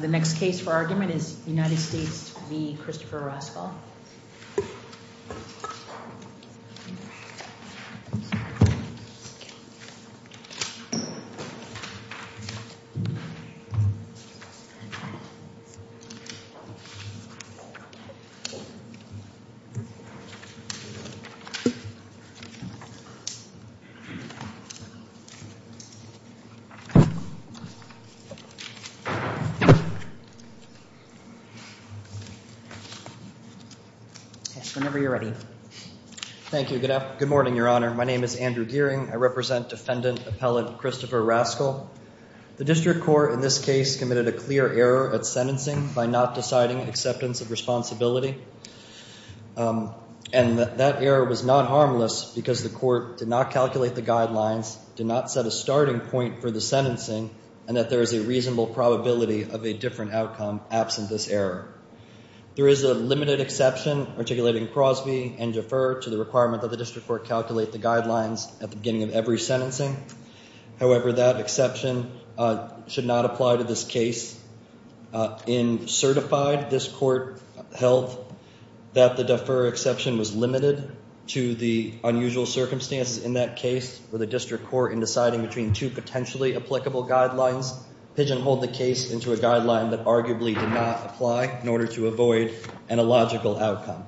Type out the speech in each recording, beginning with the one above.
The next case for argument is United States v. Christopher Rascoll The District Court in this case committed a clear error at sentencing by not deciding acceptance of responsibility, and that error was not harmless because the court did not calculate the guidelines, did not set a starting point for the sentencing, and that there is a reasonable probability of a guilty verdict. There is a limited exception articulating Crosby and defer to the requirement that the District Court calculate the guidelines at the beginning of every sentencing. However, that exception should not apply to this case. In certified, this court held that the defer exception was limited to the unusual circumstances in that case for the District Court in deciding between two potentially applicable guidelines. Pigeonholed the case into a guideline that arguably did not apply in order to avoid an illogical outcome.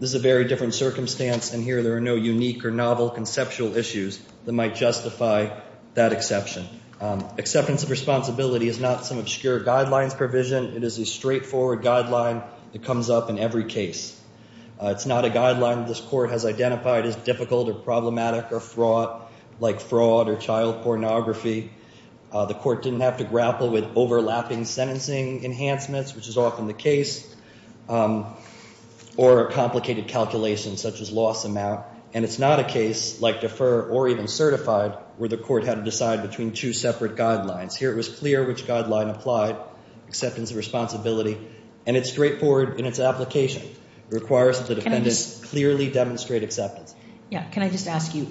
This is a very different circumstance, and here there are no unique or novel conceptual issues that might justify that exception. Acceptance of responsibility is not some obscure guidelines provision. It is a straightforward guideline that comes up in every case. It's not a guideline this court has identified as difficult or problematic or fraught, like fraud or child pornography. The court didn't have to grapple with overlapping sentencing enhancements, which is often the case, or complicated calculations such as loss amount. And it's not a case like defer or even certified where the court had to decide between two separate guidelines. Here it was clear which guideline applied, acceptance of responsibility, and it's straightforward in its application. It requires that the defendant clearly demonstrate acceptance. Yeah, can I just ask you,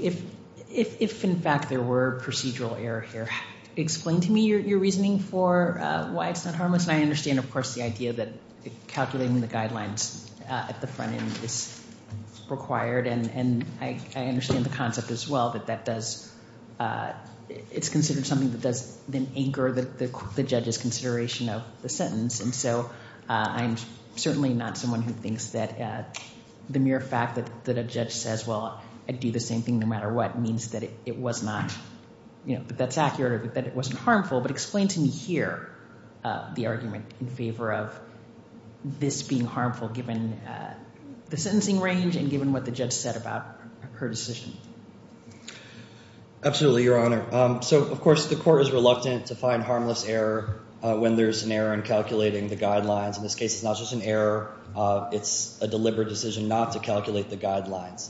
if in fact there were procedural error here, explain to me your reasoning for why it's not harmless. And I understand, of course, the idea that calculating the guidelines at the front end is required, and I understand the concept as well, that it's considered something that does then anchor the judge's consideration of the sentence. And so I'm certainly not someone who thinks that the mere fact that a judge says, well, I thought I'd do the same thing no matter what, means that it was not, that that's accurate or that it wasn't harmful. But explain to me here the argument in favor of this being harmful, given the sentencing range and given what the judge said about her decision. Absolutely, Your Honor. So, of course, the court is reluctant to find harmless error when there's an error in calculating the guidelines. In this case, it's not just an error. It's a deliberate decision not to calculate the guidelines.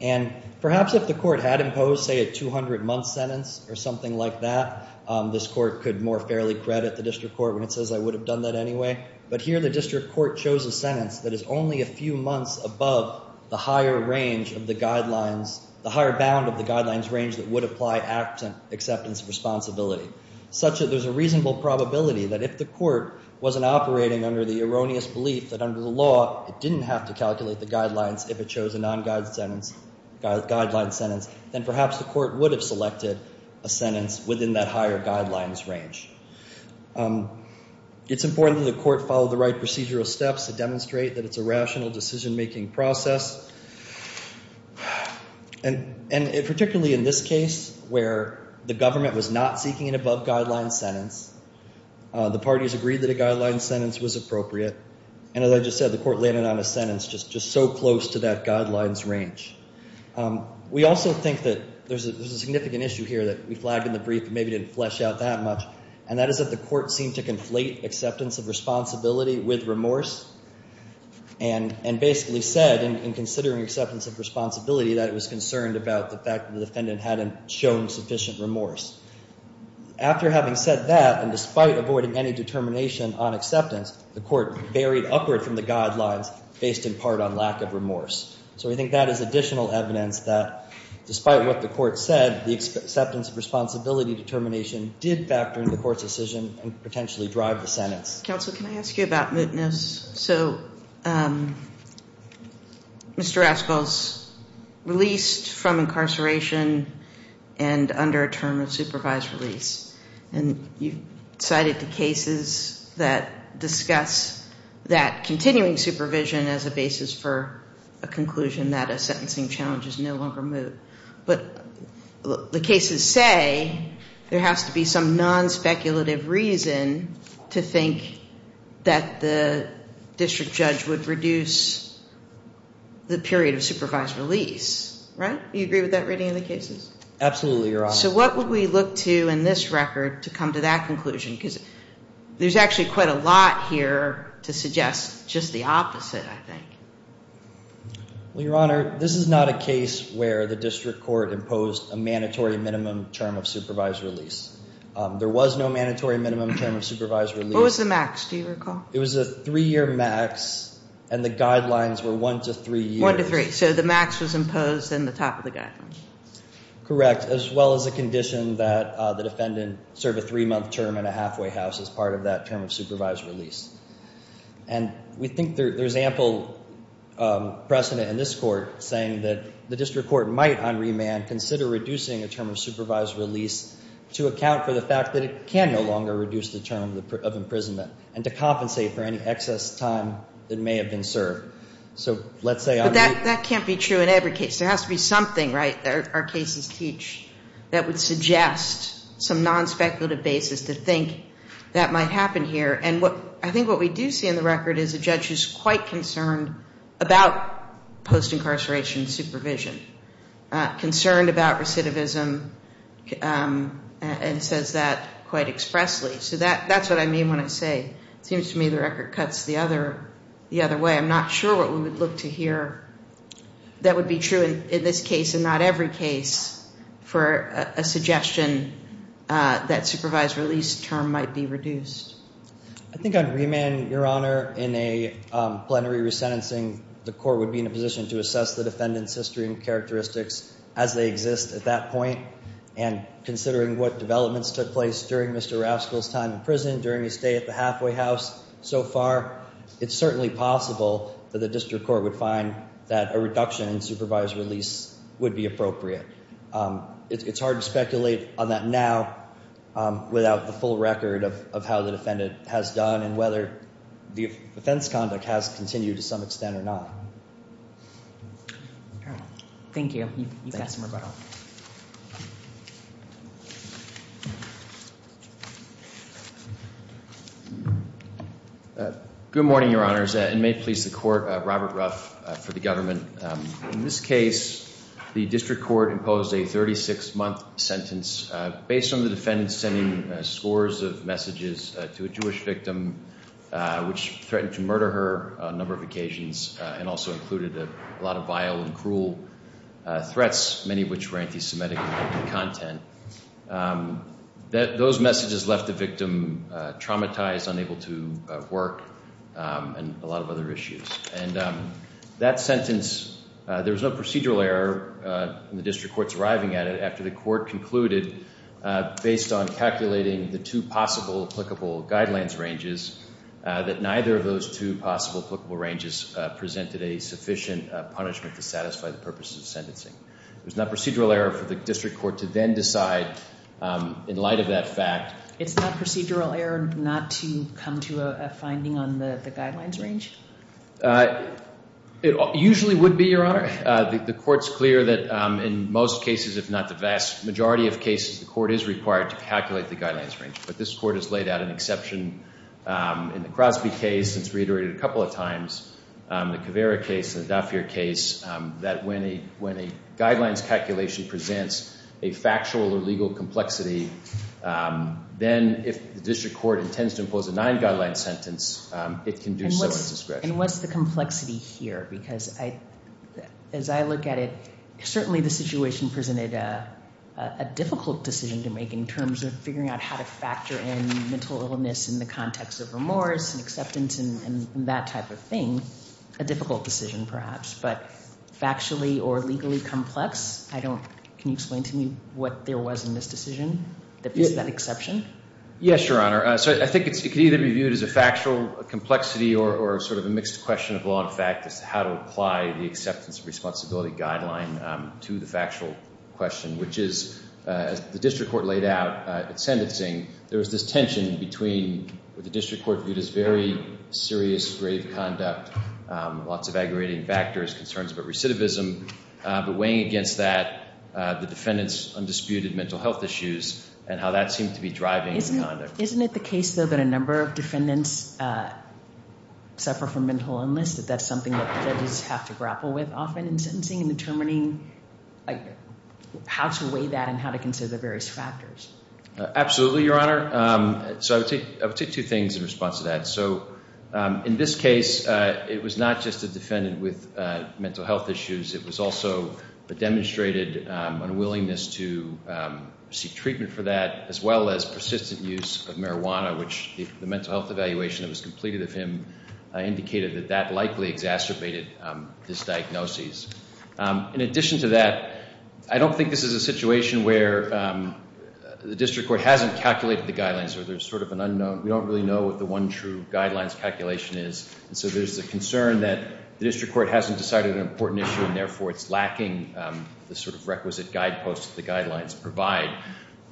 And perhaps if the court had imposed, say, a 200-month sentence or something like that, this court could more fairly credit the district court when it says, I would have done that anyway. But here the district court chose a sentence that is only a few months above the higher range of the guidelines, the higher bound of the guidelines range that would apply absent acceptance of responsibility, such that there's a reasonable probability that if the court wasn't operating under the erroneous belief that under the law it didn't have to calculate the guidelines if it chose a non-guide sentence, guideline sentence, then perhaps the court would have selected a sentence within that higher guidelines range. It's important that the court follow the right procedural steps to demonstrate that it's a rational decision-making process. And particularly in this case where the government was not seeking an above-guidelines sentence, the parties agreed that a guideline sentence was appropriate. And as I just said, the court landed on a sentence just so close to that guidelines range. We also think that there's a significant issue here that we flagged in the brief and maybe didn't flesh out that much, and that is that the court seemed to conflate acceptance of responsibility with remorse and basically said in considering acceptance of responsibility that it was concerned about the fact that the defendant hadn't shown sufficient remorse. After having said that, and despite avoiding any determination on acceptance, the court varied upward from the guidelines based in part on lack of remorse. So we think that is additional evidence that despite what the court said, the acceptance of responsibility determination did factor in the court's decision and potentially drive the sentence. Counsel, can I ask you about mootness? So Mr. Raskel's released from incarceration and under a term of supervised release. And you cited the cases that discuss that continuing supervision as a basis for a conclusion that a sentencing challenge is no longer moot. But the cases say there has to be some non-speculative reason to think that the district judge would reduce the period of supervised release, right? Do you agree with that reading of the cases? Absolutely, Your Honor. So what would we look to in this record to come to that conclusion? Because there's actually quite a lot here to suggest just the opposite, I think. Well, Your Honor, this is not a case where the district court imposed a mandatory minimum term of supervised release. There was no mandatory minimum term of supervised release. What was the max, do you recall? It was a three-year max, and the guidelines were one to three years. One to three, so the max was imposed in the top of the guidelines. Correct, as well as a condition that the defendant serve a three-month term in a halfway house as part of that term of supervised release. And we think there's ample precedent in this court saying that the district court might, on remand, consider reducing a term of supervised release to account for the fact that it can no longer reduce the term of imprisonment and to compensate for any excess time that may have been served. But that can't be true in every case. There has to be something, right, that our cases teach that would suggest some non-speculative basis to think that might happen here. And I think what we do see in the record is a judge who's quite concerned about post-incarceration supervision, concerned about recidivism, and says that quite expressly. So that's what I mean when I say it seems to me the record cuts the other way. I'm not sure what we would look to hear that would be true in this case and not every case for a suggestion that supervised release term might be reduced. I think on remand, Your Honor, in a plenary resentencing, the court would be in a position to assess the defendant's history and characteristics as they exist at that point. And considering what developments took place during Mr. Raskel's time in prison, during his stay at the halfway house so far, it's certainly possible that the district court would find that a reduction in supervised release would be appropriate. It's hard to speculate on that now without the full record of how the defendant has done and whether the offense conduct has continued to some extent or not. Thank you. You've got some rebuttal. Good morning, Your Honors, and may it please the Court, Robert Ruff for the government. In this case, the district court imposed a 36-month sentence based on the defendant sending scores of messages to a Jewish victim which threatened to murder her on a number of occasions and also included a lot of vile and cruel threats, many of which were anti-Semitic in content. Those messages left the victim traumatized, unable to work, and a lot of other issues. And that sentence, there was no procedural error in the district court's arriving at it after the court concluded, based on calculating the two possible applicable guidelines ranges, that neither of those two possible applicable ranges presented a sufficient punishment to satisfy the purpose of sentencing. There's no procedural error for the district court to then decide in light of that fact. It's not procedural error not to come to a finding on the guidelines range? It usually would be, Your Honor. The court's clear that in most cases, if not the vast majority of cases, the court is required to calculate the guidelines range. But this court has laid out an exception in the Crosby case, and it's reiterated a couple of times, the Caveira case, the Dauphir case, that when a guidelines calculation presents a factual or legal complexity, then if the district court intends to impose a nine-guideline sentence, it can do so at discretion. And what's the complexity here? Because as I look at it, certainly the situation presented a difficult decision to make in terms of figuring out how to factor in mental illness in the context of remorse and acceptance and that type of thing. A difficult decision, perhaps. But factually or legally complex? Can you explain to me what there was in this decision that fits that exception? Yes, Your Honor. So I think it can either be viewed as a factual complexity or sort of a mixed question of law and fact as to how to apply the acceptance and responsibility guideline to the factual question, which is, as the district court laid out at sentencing, there was this tension between what the district court viewed as very serious grave conduct, lots of aggravating factors, concerns about recidivism, but weighing against that the defendant's undisputed mental health issues and how that seemed to be driving the conduct. Isn't it the case, though, that a number of defendants suffer from mental illness, that that's something that judges have to grapple with often in sentencing in determining how to weigh that and how to consider the various factors? Absolutely, Your Honor. So I would take two things in response to that. So in this case, it was not just a defendant with mental health issues. It was also a demonstrated unwillingness to seek treatment for that, as well as persistent use of marijuana, which the mental health evaluation that was completed of him indicated that that likely exacerbated this diagnosis. In addition to that, I don't think this is a situation where the district court hasn't calculated the guidelines or there's sort of an unknown. We don't really know what the one true guidelines calculation is. So there's a concern that the district court hasn't decided an important issue and therefore it's lacking the sort of requisite guideposts the guidelines provide.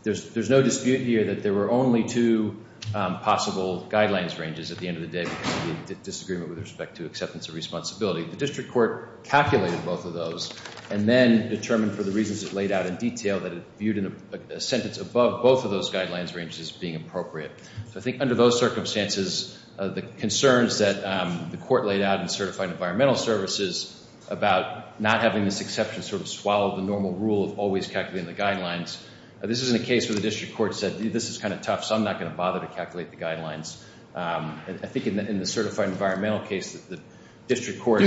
There's no dispute here that there were only two possible guidelines ranges at the end of the day because of the disagreement with respect to acceptance of responsibility. The district court calculated both of those and then determined for the reasons it laid out in detail that it viewed a sentence above both of those guidelines ranges as being appropriate. So I think under those circumstances, the concerns that the court laid out in certified environmental services about not having this exception sort of swallow the normal rule of always calculating the guidelines, this isn't a case where the district court said this is kind of tough, so I'm not going to bother to calculate the guidelines. I think in the certified environmental case, the district court—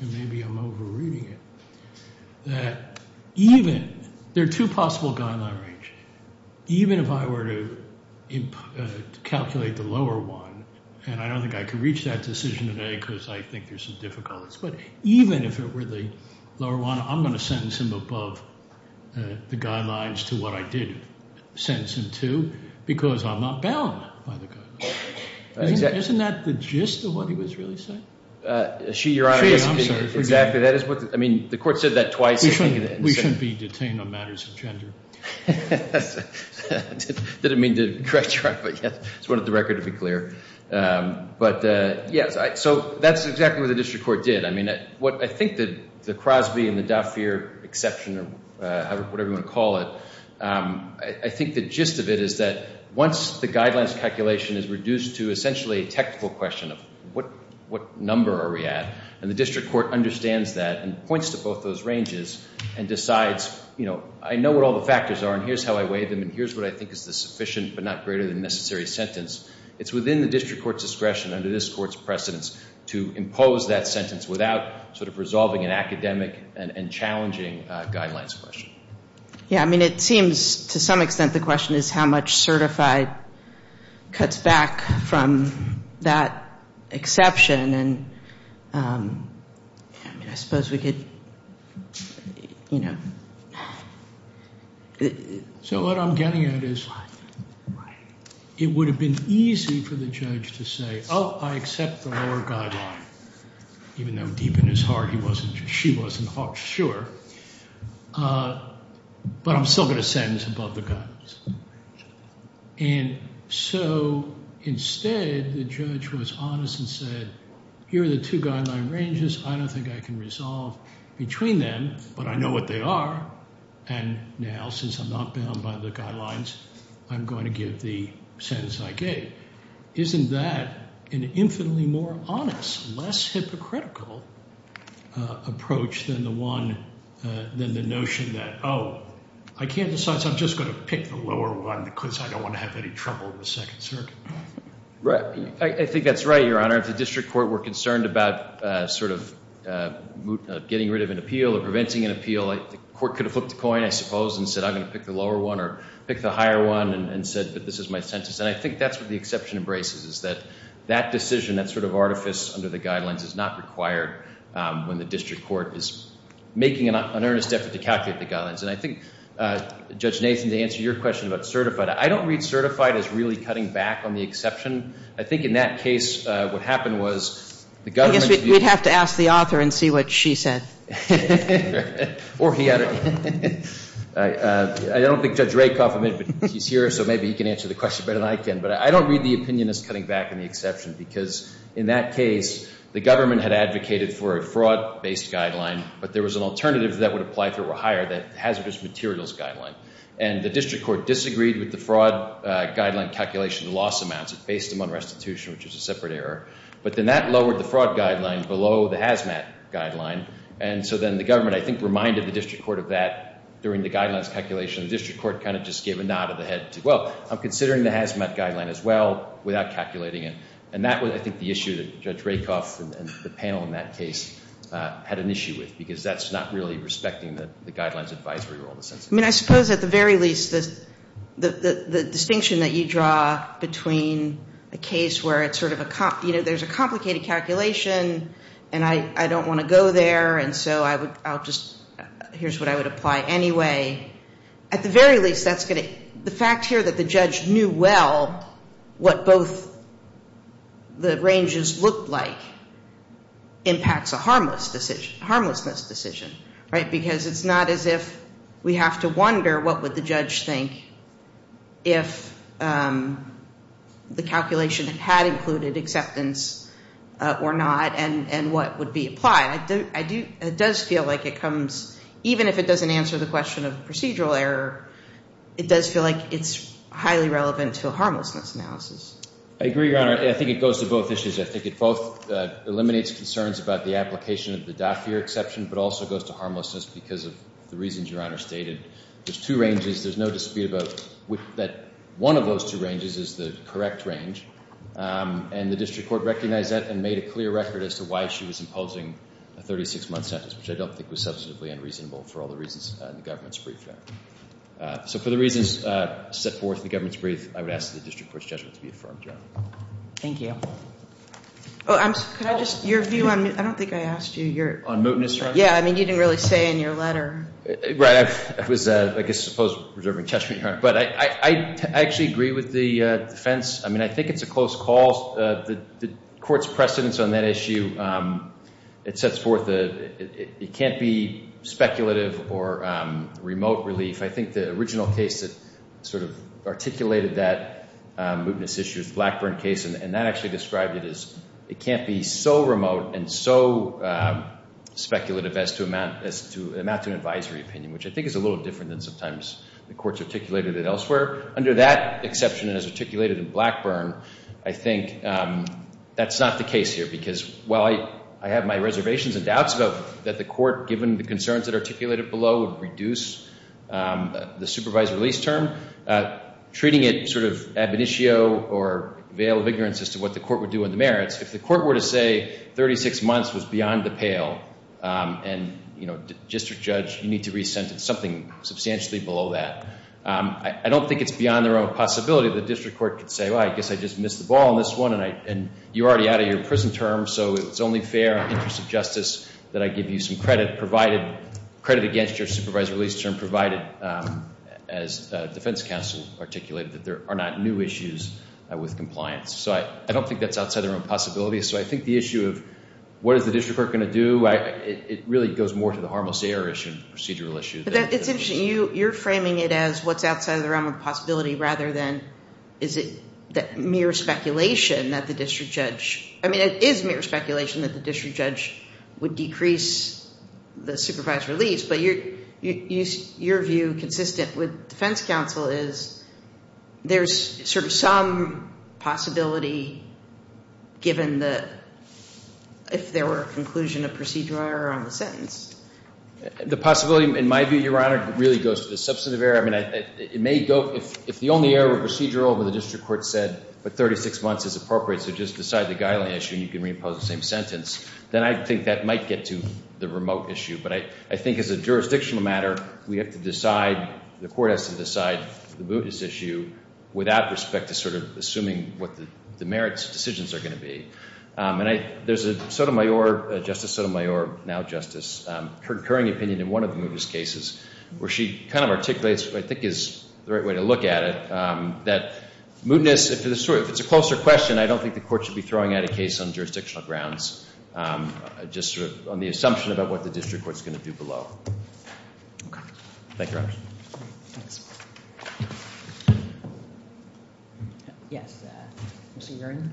and maybe I'm over-reading it—that even—there are two possible guideline ranges. Even if I were to calculate the lower one, and I don't think I could reach that decision today because I think there's some difficulties, but even if it were the lower one, I'm going to sentence him above the guidelines to what I did sentence him to because I'm not bound by the guidelines. Isn't that the gist of what he was really saying? She, Your Honor— I'm sorry. Exactly. That is what—I mean, the court said that twice. We shouldn't be detained on matters of gender. I didn't mean to try to—I just wanted the record to be clear. But, yes, so that's exactly what the district court did. I mean, what I think the Crosby and the Dauphier exception or whatever you want to call it, I think the gist of it is that once the guidelines calculation is reduced to essentially a technical question of what number are we at, and the district court understands that and points to both those ranges and decides, you know, I know what all the factors are, and here's how I weigh them, and here's what I think is the sufficient but not greater than necessary sentence, it's within the district court's discretion under this court's precedence to impose that sentence without sort of resolving an academic and challenging guidelines question. Yeah, I mean, it seems to some extent the question is how much certified cuts back from that exception, and I suppose we could, you know— So what I'm getting at is it would have been easy for the judge to say, oh, I accept the lower guideline, even though deep in his heart he wasn't—she wasn't sure, but I'm still going to sentence above the guidelines. And so instead the judge was honest and said, here are the two guideline ranges. I don't think I can resolve between them, but I know what they are, and now since I'm not bound by the guidelines, I'm going to give the sentence I gave. Isn't that an infinitely more honest, less hypocritical approach than the one—than the notion that, oh, I can't decide, so I'm just going to pick the lower one because I don't want to have any trouble in the Second Circuit? Right. I think that's right, Your Honor. If the district court were concerned about sort of getting rid of an appeal or preventing an appeal, the court could have flipped a coin, I suppose, and said I'm going to pick the lower one or pick the higher one and said that this is my sentence, and I think that's what the exception embraces, is that that decision, that sort of artifice under the guidelines, is not required when the district court is making an earnest effort to calculate the guidelines. And I think, Judge Nathan, to answer your question about certified, I don't read certified as really cutting back on the exception. I think in that case what happened was the government— I guess we'd have to ask the author and see what she said. Or he, I don't know. I don't think Judge Rakoff—he's here, so maybe he can answer the question better than I can. But I don't read the opinion as cutting back on the exception because, in that case, the government had advocated for a fraud-based guideline, but there was an alternative that would apply if it were higher, that hazardous materials guideline. And the district court disagreed with the fraud guideline calculation loss amounts. It based them on restitution, which is a separate error. But then that lowered the fraud guideline below the HAZMAT guideline. And so then the government, I think, reminded the district court of that during the guidelines calculation. The district court kind of just gave a nod of the head to, well, I'm considering the HAZMAT guideline as well without calculating it. And that was, I think, the issue that Judge Rakoff and the panel in that case had an issue with because that's not really respecting the guidelines advisory role, in a sense. I mean, I suppose at the very least the distinction that you draw between a case where it's sort of a— you know, there's a complicated calculation, and I don't want to go there, and so I would—I'll just—here's what I would apply anyway. At the very least, that's going to—the fact here that the judge knew well what both the ranges looked like impacts a harmless decision—harmlessness decision, right? Because it's not as if we have to wonder what would the judge think if the calculation had included acceptance or not and what would be applied. It does feel like it comes—even if it doesn't answer the question of procedural error, it does feel like it's highly relevant to a harmlessness analysis. I agree, Your Honor. I think it goes to both issues. I think it both eliminates concerns about the application of the Dafir exception but also goes to harmlessness because of the reasons Your Honor stated. There's two ranges. There's no dispute about that one of those two ranges is the correct range, and the district court recognized that and made a clear record as to why she was imposing a 36-month sentence, which I don't think was substantively unreasonable for all the reasons in the government's brief there. So for the reasons set forth in the government's brief, I would ask the district court's judgment to be affirmed, Your Honor. Thank you. Could I just—your view on—I don't think I asked you your— On mootness, Your Honor? Yeah, I mean, you didn't really say in your letter. Right. I was, I guess, supposed to be preserving judgment, Your Honor. But I actually agree with the defense. I mean, I think it's a close call. The court's precedence on that issue, it sets forth—it can't be speculative or remote relief. I think the original case that sort of articulated that mootness issue is the Blackburn case, and that actually described it as it can't be so remote and so speculative as to amount to an advisory opinion, which I think is a little different than sometimes the courts articulated it elsewhere. Under that exception, as articulated in Blackburn, I think that's not the case here because while I have my reservations and doubts that the court, given the concerns that are articulated below, would reduce the supervisor release term, treating it sort of ab initio or veil of ignorance as to what the court would do on the merits, if the court were to say 36 months was beyond the pale and, you know, district judge, you need to re-sentence something substantially below that, I don't think it's beyond the realm of possibility. The district court could say, well, I guess I just missed the ball on this one, and you're already out of your prison term, so it's only fair in the interest of justice that I give you some credit against your supervisor release term, provided, as defense counsel articulated, that there are not new issues with compliance. So I don't think that's outside of the realm of possibility. So I think the issue of what is the district court going to do, it really goes more to the harmless error issue and procedural issue. But it's interesting. You're framing it as what's outside of the realm of possibility rather than is it mere speculation that the district judge – I mean, it is mere speculation that the district judge would decrease the supervisor release, but your view consistent with defense counsel is there's sort of some possibility given the – if there were a conclusion of procedural error on the sentence. The possibility, in my view, Your Honor, really goes to the substantive error. I mean, it may go – if the only error were procedural, but the district court said, but 36 months is appropriate, so just decide the guideline issue and you can reimpose the same sentence, then I think that might get to the remote issue. But I think as a jurisdictional matter, we have to decide – the court has to decide the mootness issue without respect to sort of assuming what the merits decisions are going to be. And there's a Sotomayor – Justice Sotomayor, now justice, concurring opinion in one of the mootness cases where she kind of articulates what I think is the right way to look at it, that mootness – if it's a closer question, I don't think the court should be throwing out a case on jurisdictional grounds, just sort of on the assumption about what the district court's going to do below. Okay. Thank you, Your Honor. Thanks. Yes, Mr. Yurin.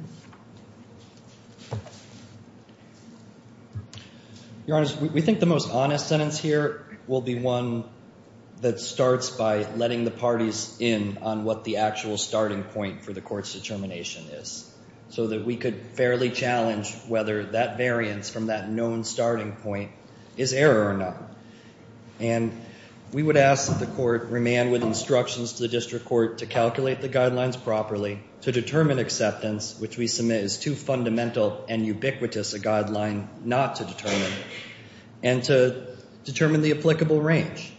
Your Honor, we think the most honest sentence here will be one that starts by letting the parties in on what the actual starting point for the court's determination is, so that we could fairly challenge whether that variance from that known starting point is error or not. And we would ask that the court remain with instructions to the district court to calculate the guidelines properly, to determine acceptance, which we submit is too fundamental and ubiquitous a guideline not to determine, and to determine the applicable range.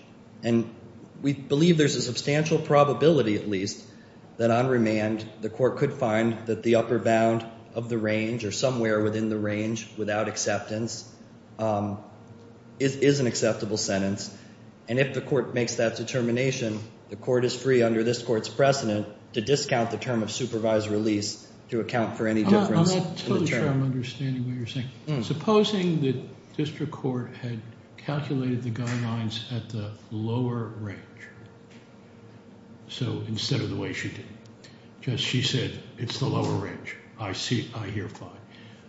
And we believe there's a substantial probability at least that on remand the court could find that the upper bound of the range or somewhere within the range without acceptance is an acceptable sentence. And if the court makes that determination, the court is free under this court's precedent to discount the term of supervised release to account for any difference in the term. I'm not totally sure I'm understanding what you're saying. Supposing the district court had calculated the guidelines at the lower range. So instead of the way she did, just she said it's the lower range. I hear fine.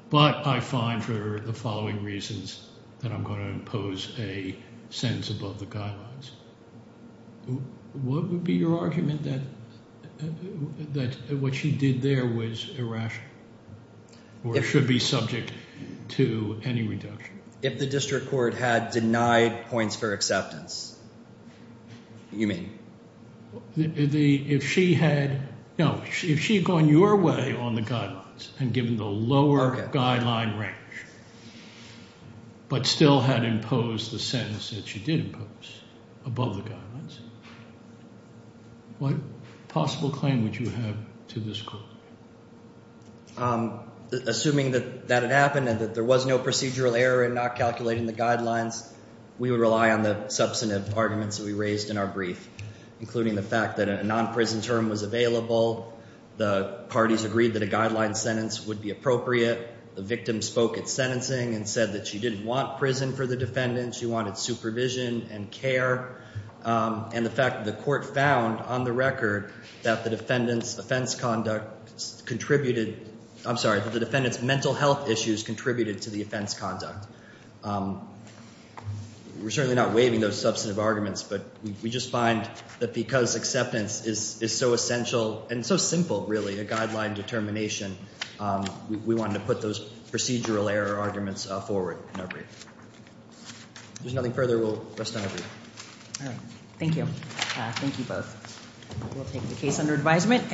But I find for the following reasons that I'm going to impose a sentence above the guidelines. What would be your argument that what she did there was irrational or should be subject to any reduction? If the district court had denied points for acceptance, you mean? If she had gone your way on the guidelines and given the lower guideline range, but still had imposed the sentence that she did impose above the guidelines, what possible claim would you have to this court? Assuming that that had happened and that there was no procedural error in not calculating the guidelines, we would rely on the substantive arguments that we raised in our brief, including the fact that a non-prison term was available. The parties agreed that a guideline sentence would be appropriate. The victim spoke at sentencing and said that she didn't want prison for the defendant. She wanted supervision and care. And the fact that the court found on the record that the defendant's mental health issues contributed to the offense conduct. We're certainly not waiving those substantive arguments, but we just find that because acceptance is so essential and so simple, really, a guideline determination, we wanted to put those procedural error arguments forward in our brief. If there's nothing further, we'll rest on our brief. All right. Thank you. Thank you both. We'll take the case under advisement.